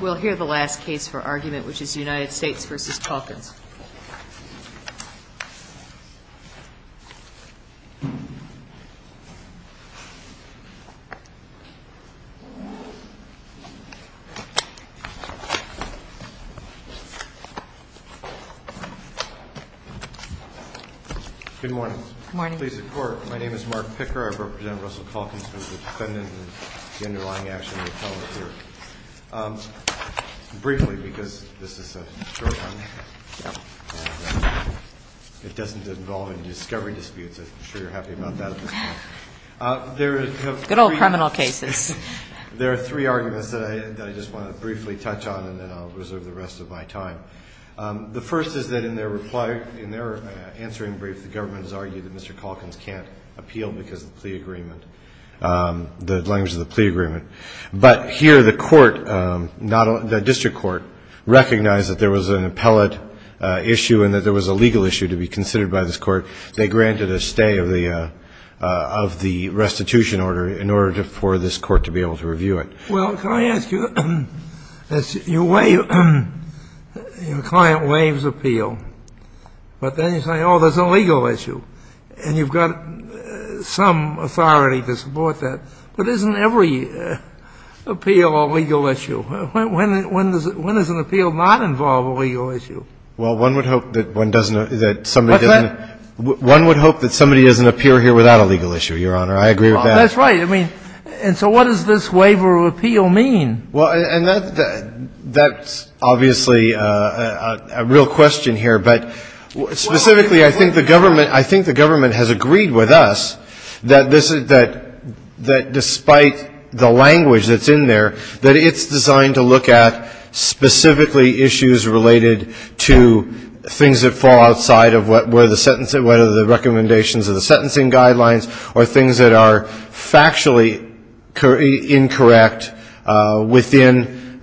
We'll hear the last case for argument, which is United States v. Calkins. Good morning. Good morning. Please report. My name is Mark Picker. I represent Russell Calkins. I'm the defendant and the underlying action of the felon here. Briefly, because this is a short one, it doesn't involve any discovery disputes. I'm sure you're happy about that at this point. Good old criminal cases. There are three arguments that I just want to briefly touch on, and then I'll reserve the rest of my time. The first is that in their reply, in their answering brief, the government has argued that Mr. Calkins can't appeal because of the plea agreement, the language of the plea agreement. But here the court, the district court, recognized that there was an appellate issue and that there was a legal issue to be considered by this court. They granted a stay of the restitution order in order for this court to be able to review it. Well, can I ask you, you waive, your client waives appeal, but then you say, oh, there's a legal issue, and you've got some authority to support that. But isn't every appeal a legal issue? When does an appeal not involve a legal issue? Well, one would hope that one doesn't, that somebody doesn't. What's that? One would hope that somebody doesn't appear here without a legal issue, Your Honor. I agree with that. That's right. I mean, and so what does this waiver of appeal mean? Well, and that's obviously a real question here. But specifically, I think the government has agreed with us that despite the language that's in there, that it's designed to look at specifically issues related to things that fall outside of what are the recommendations of the sentencing guidelines or things that are factually incorrect within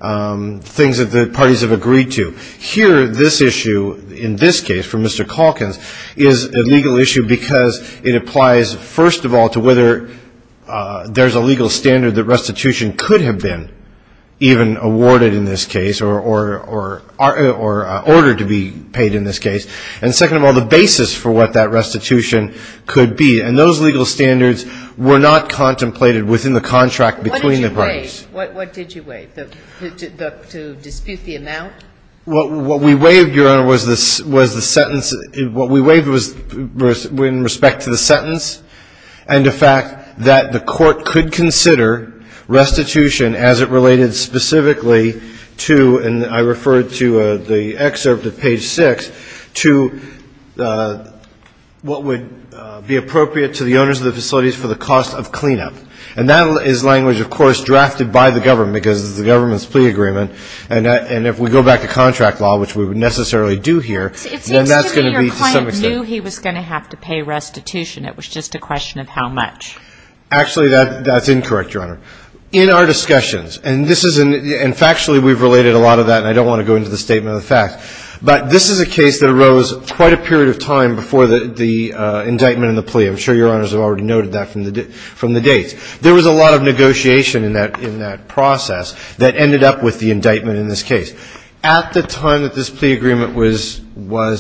things that the parties have agreed to. Here, this issue in this case for Mr. Calkins is a legal issue because it applies, first of all, to whether there's a legal standard that restitution could have been even awarded in this case or ordered to be paid in this case. And second of all, the basis for what that restitution could be. And those legal standards were not contemplated within the contract between the parties. What did you waive? What did you waive? To dispute the amount? What we waived, Your Honor, was the sentence. What we waived was in respect to the sentence and the fact that the Court could consider restitution as it related specifically to, and I referred to the excerpt at page 6, to what would be appropriate to the owners of the facilities for the cost of cleanup. And that is language, of course, drafted by the government because it's the government's plea agreement. And if we go back to contract law, which we would necessarily do here, then that's going to be to some extent. It seems to me your client knew he was going to have to pay restitution. It was just a question of how much. Actually, that's incorrect, Your Honor. In our discussions, and this isn't, and factually we've related a lot of that, and I don't want to go into the statement of the facts, but this is a case that arose quite a period of time before the indictment and the plea. I'm sure Your Honors have already noted that from the dates. There was a lot of negotiation in that process that ended up with the indictment in this case. At the time that this plea agreement was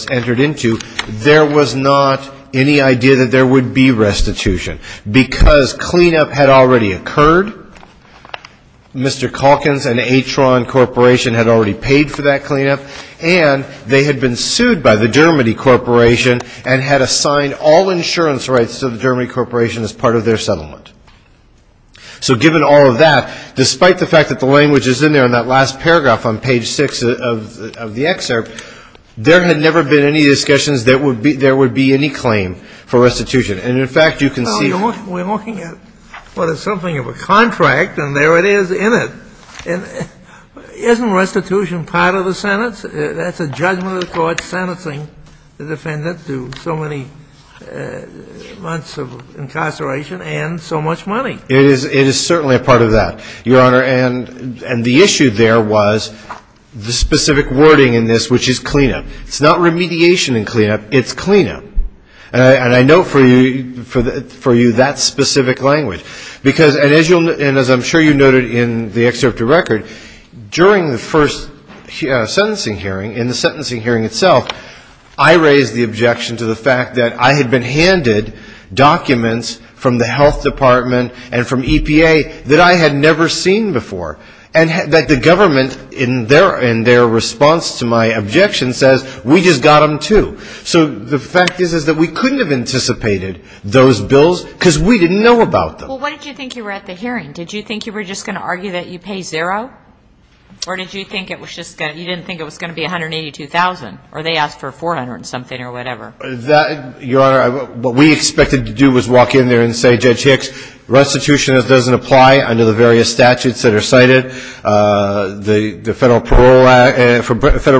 entered into, there was not any idea that there would be restitution because cleanup had already occurred. Mr. Calkins and Atron Corporation had already paid for that cleanup, and they had been sued by the Dermody Corporation and had assigned all insurance rights to the Dermody Corporation as part of their settlement. So given all of that, despite the fact that the language is in there in that last paragraph on page 6 of the excerpt, there had never been any discussions that there would be any claim for restitution. And, in fact, you can see We're looking at what is something of a contract, and there it is in it. Isn't restitution part of the sentence? That's a judgment of the court sentencing the defendant to so many months of incarceration and so much money. It is certainly a part of that, Your Honor. And the issue there was the specific wording in this, which is cleanup. It's not remediation and cleanup. It's cleanup. And I note for you that specific language. Because, and as I'm sure you noted in the excerpt to record, during the first sentencing hearing, in the sentencing hearing itself, I raised the objection to the fact that I had been handed documents from the health department and from EPA that I had never seen before, and that the government in their response to my objection says, we just got them too. So the fact is that we couldn't have anticipated those bills because we didn't know about them. Well, what did you think you were at the hearing? Did you think you were just going to argue that you pay zero? Or did you think it was just going to, you didn't think it was going to be $182,000? Or they asked for $400-something or whatever. That, Your Honor, what we expected to do was walk in there and say, Judge Hicks, restitution doesn't apply under the various statutes that are cited. The Federal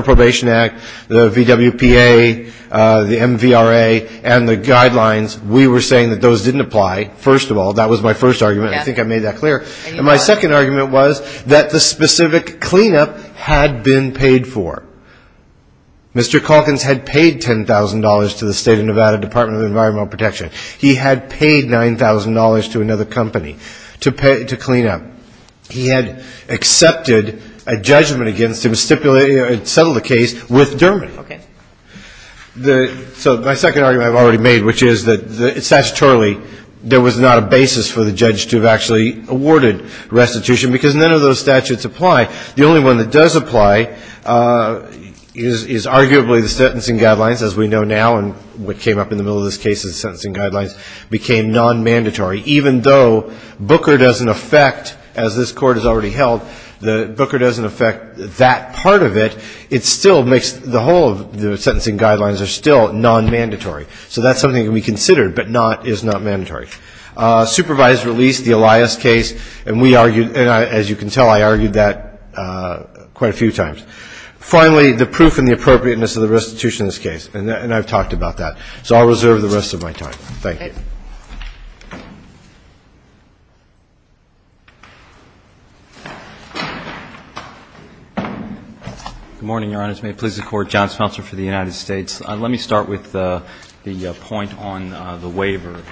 Probation Act, the VWPA, the MVRA, and the guidelines, we were saying that those didn't apply, first of all. That was my first argument. I think I made that clear. And my second argument was that the specific cleanup had been paid for. Mr. Calkins had paid $10,000 to the State of Nevada Department of Environmental Protection. He had paid $9,000 to another company to clean up. He had accepted a judgment against him, stipulated, settled a case with Dermody. Okay. So my second argument I've already made, which is that, statutorily, there was not a basis for the judge to have actually awarded restitution, because none of those statutes apply. The only one that does apply is arguably the sentencing guidelines, as we know now, and what came up in the middle of this case is the sentencing guidelines, became non-mandatory, even though Booker doesn't affect, as this Court has already held, that Booker doesn't affect that part of it, it still makes the whole of the sentencing guidelines are still non-mandatory. So that's something that can be considered, but not, is not mandatory. Supervised release, the Elias case, and we argued, and as you can tell, I argued that quite a few times. Finally, the proof and the appropriateness of the restitution in this case, and I've talked about that. So I'll reserve the rest of my time. Thank you. Good morning, Your Honors. May it please the Court. John Smeltzer for the United States. Let me start with the point on the waiver.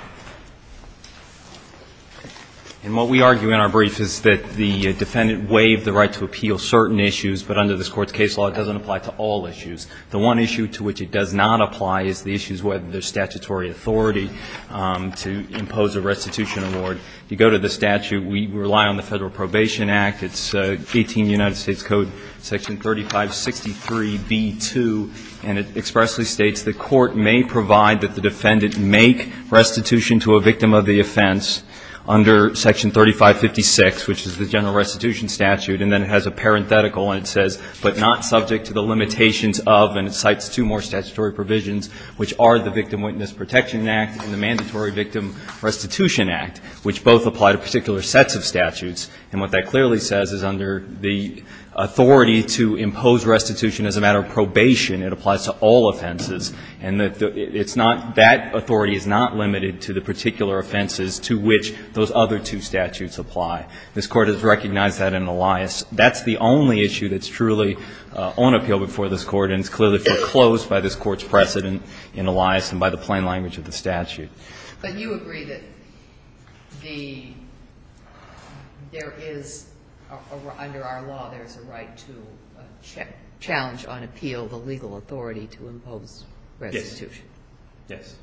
And what we argue in our brief is that the defendant waived the right to appeal certain issues, but under this Court's case law, it doesn't apply to all issues. The one issue to which it does not apply is the issues whether there's statutory authority to impose a restitution award. You go to the statute. We rely on the Federal Probation Act. It's 18 United States Code section 3563B2, and it expressly states the Court may provide that the defendant make restitution to a victim of the offense under section 3556, which is the general restitution statute. And then it has a parenthetical, and it says, but not subject to the limitations of, and it cites two more statutory provisions, which are the Victim Witness Protection Act and the Mandatory Victim Restitution Act, which both apply to particular sets of statutes. And what that clearly says is under the authority to impose restitution as a matter of probation, it applies to all offenses. And it's not that authority is not limited to the particular offenses to which those other two statutes apply. This Court has recognized that in Elias. That's the only issue that's truly on appeal before this Court, and it's clearly foreclosed by this Court's precedent in Elias and by the plain language of the statute. But you agree that there is, under our law, there's a right to challenge on appeal the legal authority to impose restitution. Yes.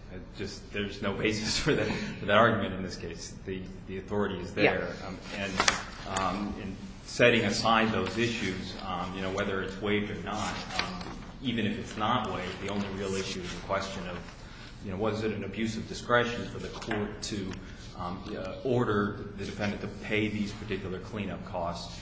There's no basis for that argument in this case. The authority is there. And setting aside those issues, whether it's waived or not, even if it's not waived, the only real issue is the question of was it an abuse of discretion for the Court to order the defendant to pay these particular cleanup costs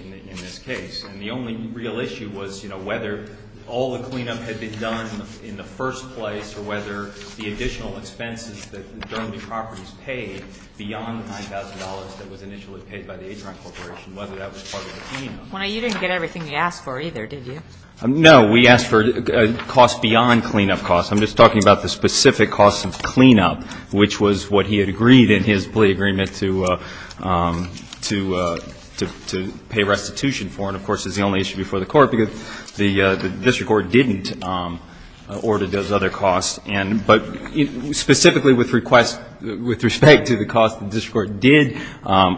in this case. And the only real issue was whether all the cleanup had been done in the first place or whether the additional expenses that the property was paid beyond the $9,000 that was initially paid by the Adron Corporation, whether that was part of the cleanup. Well, you didn't get everything we asked for either, did you? No. We asked for costs beyond cleanup costs. I'm just talking about the specific costs of cleanup, which was what he had agreed in his plea agreement to pay restitution for. And, of course, it's the only issue before the Court because the district court didn't order those other costs. But specifically with respect to the costs the district court did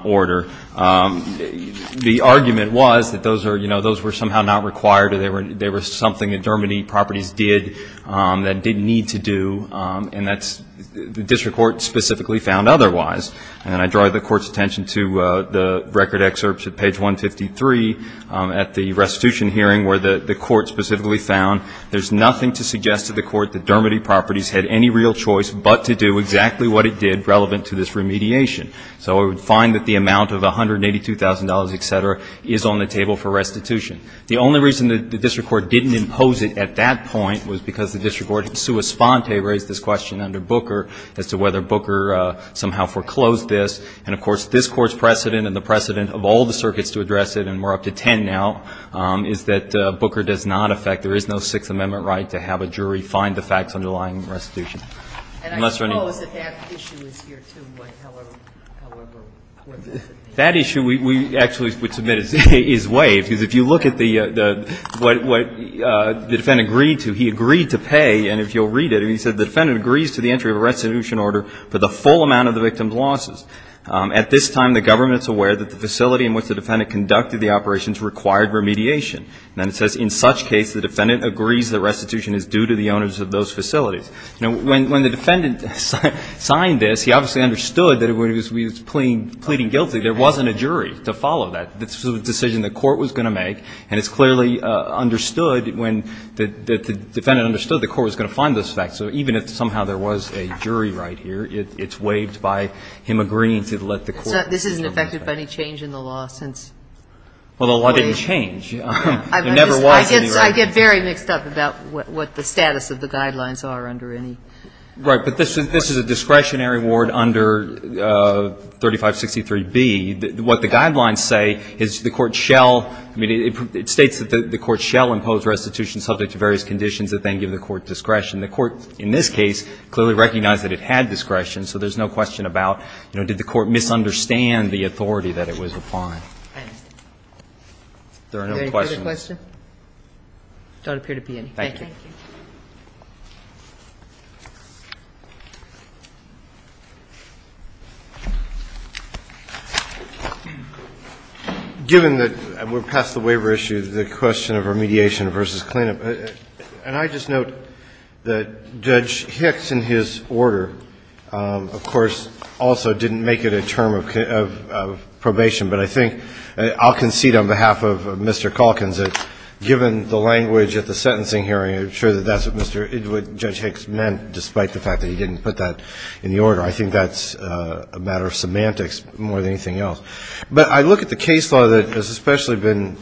order, the argument was that those were somehow not required or they were something that Dermody properties did that didn't need to do. And that's the district court specifically found otherwise. And I draw the Court's attention to the record excerpts at page 153 at the restitution hearing where the Court specifically found there's nothing to suggest to the Court that Dermody properties had any real choice but to do exactly what it did relevant to this remediation. So we would find that the amount of $182,000, et cetera, is on the table for restitution. The only reason the district court didn't impose it at that point was because the district court in sua sponte raised this question under Booker as to whether Booker somehow foreclosed this. And, of course, this Court's precedent and the precedent of all the circuits to address it, and we're up to ten now, is that Booker does not affect, there is no Sixth Amendment right to have a jury find the facts underlying the restitution. Unless there are any others. Sotomayor And I suppose that that issue is here, too, right? However, what does it mean? Verrilli, That issue we actually would submit is waived. Because if you look at the, what the defendant agreed to, he agreed to pay. And if you'll read it, he said, The defendant agrees to the entry of a restitution order for the full amount of the victim's losses. At this time, the government is aware that the facility in which the defendant conducted the operations required remediation. And then it says, In such case, the defendant agrees that restitution is due to the owners of those facilities. Now, when the defendant signed this, he obviously understood that when he was pleading guilty, there wasn't a jury to follow that. This was a decision the Court was going to make, and it's clearly understood when the defendant understood the Court was going to find those facts. So even if somehow there was a jury right here, it's waived by him agreeing to let the Court. Sotomayor This isn't affected by any change in the law since? Verrilli, Well, the law didn't change. It never was anyway. Sotomayor I get very mixed up about what the status of the guidelines are under any. Verrilli, Right. But this is a discretionary award under 3563B. What the guidelines say is the Court shall, I mean, it states that the Court shall impose restitution subject to various conditions that then give the Court discretion. The Court in this case clearly recognized that it had discretion. So there's no question about, you know, did the Court misunderstand the authority that it was applying. There are no questions. Sotomayor Any further questions? Verrilli, Thank you. Given that we're past the waiver issue, the question of remediation versus clean-up, and I just note that Judge Hicks in his order, of course, also didn't make it a term of probation. But I think I'll concede on behalf of Mr. Calkins that given the language at the sentencing hearing, I'm sure that that's what Mr. Calkins was referring to, that meant, despite the fact that he didn't put that in the order. I think that's a matter of semantics more than anything else. But I look at the case law that has especially been,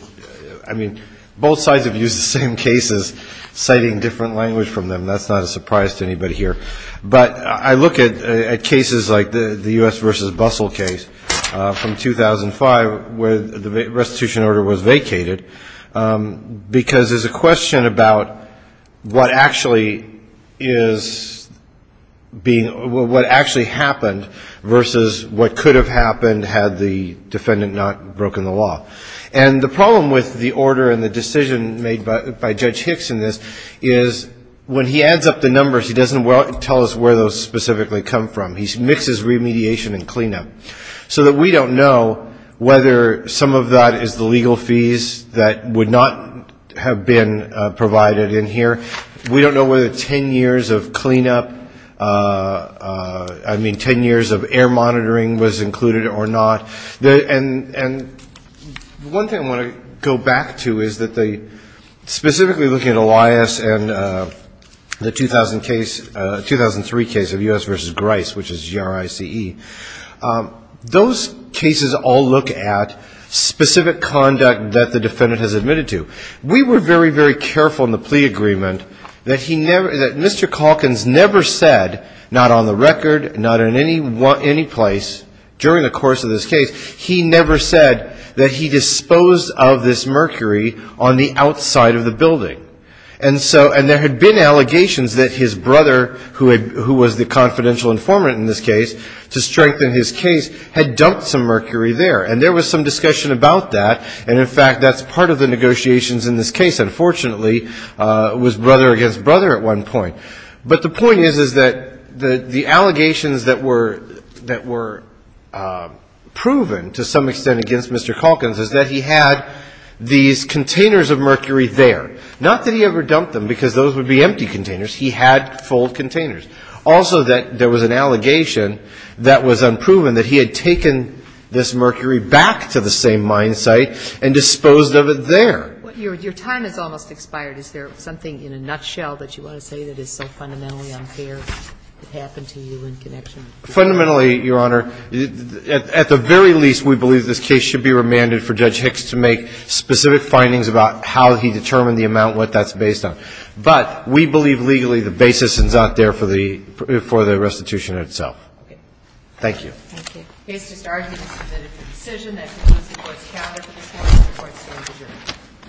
I mean, both sides have used the same cases, citing different language from them. That's not a surprise to anybody here. But I look at cases like the U.S. v. Bustle case from 2005, where the restitution order was vacated, because there's a question about what actually happened in the case law versus what could have happened had the defendant not broken the law. And the problem with the order and the decision made by Judge Hicks in this is when he adds up the numbers, he doesn't tell us where those specifically come from. He mixes remediation and clean-up, so that we don't know whether some of that is the legal fees that would not have been provided in here. We don't know whether ten years of clean-up, I mean, ten years of air monitoring was included or not. And one thing I want to go back to is that the, specifically looking at Elias and the 2000 case, 2003 case of U.S. v. Grice, which is G-R-I-C-E, those cases all look at specific conduct that the defendant has admitted to. We were very, very careful in the plea agreement that he never, that Mr. Calkins never said, not on the record, not in any place during the course of this case, he never said that he disposed of this mercury on the outside of the building. And so, and there had been allegations that his brother, who was the confidential informant in this case, to strengthen his case, had dumped some mercury there. And there was some discussion about that. And, in fact, that's part of the negotiations in this case. Unfortunately, it was brother against brother at one point. But the point is, is that the allegations that were, that were proven to some extent against Mr. Calkins is that he had these containers of mercury there. Not that he ever dumped them, because those would be empty containers. He had full containers. Also, that there was an allegation that was unproven, that he had taken this mercury back to the same mine site and disposed of it there. Your time has almost expired. Is there something in a nutshell that you want to say that is so fundamentally unfair that happened to you in connection with this? Fundamentally, Your Honor, at the very least, we believe this case should be remanded for Judge Hicks to make specific findings about how he determined the amount, what that's based on. But we believe legally the basis is out there for the restitution itself. Thank you. Thank you.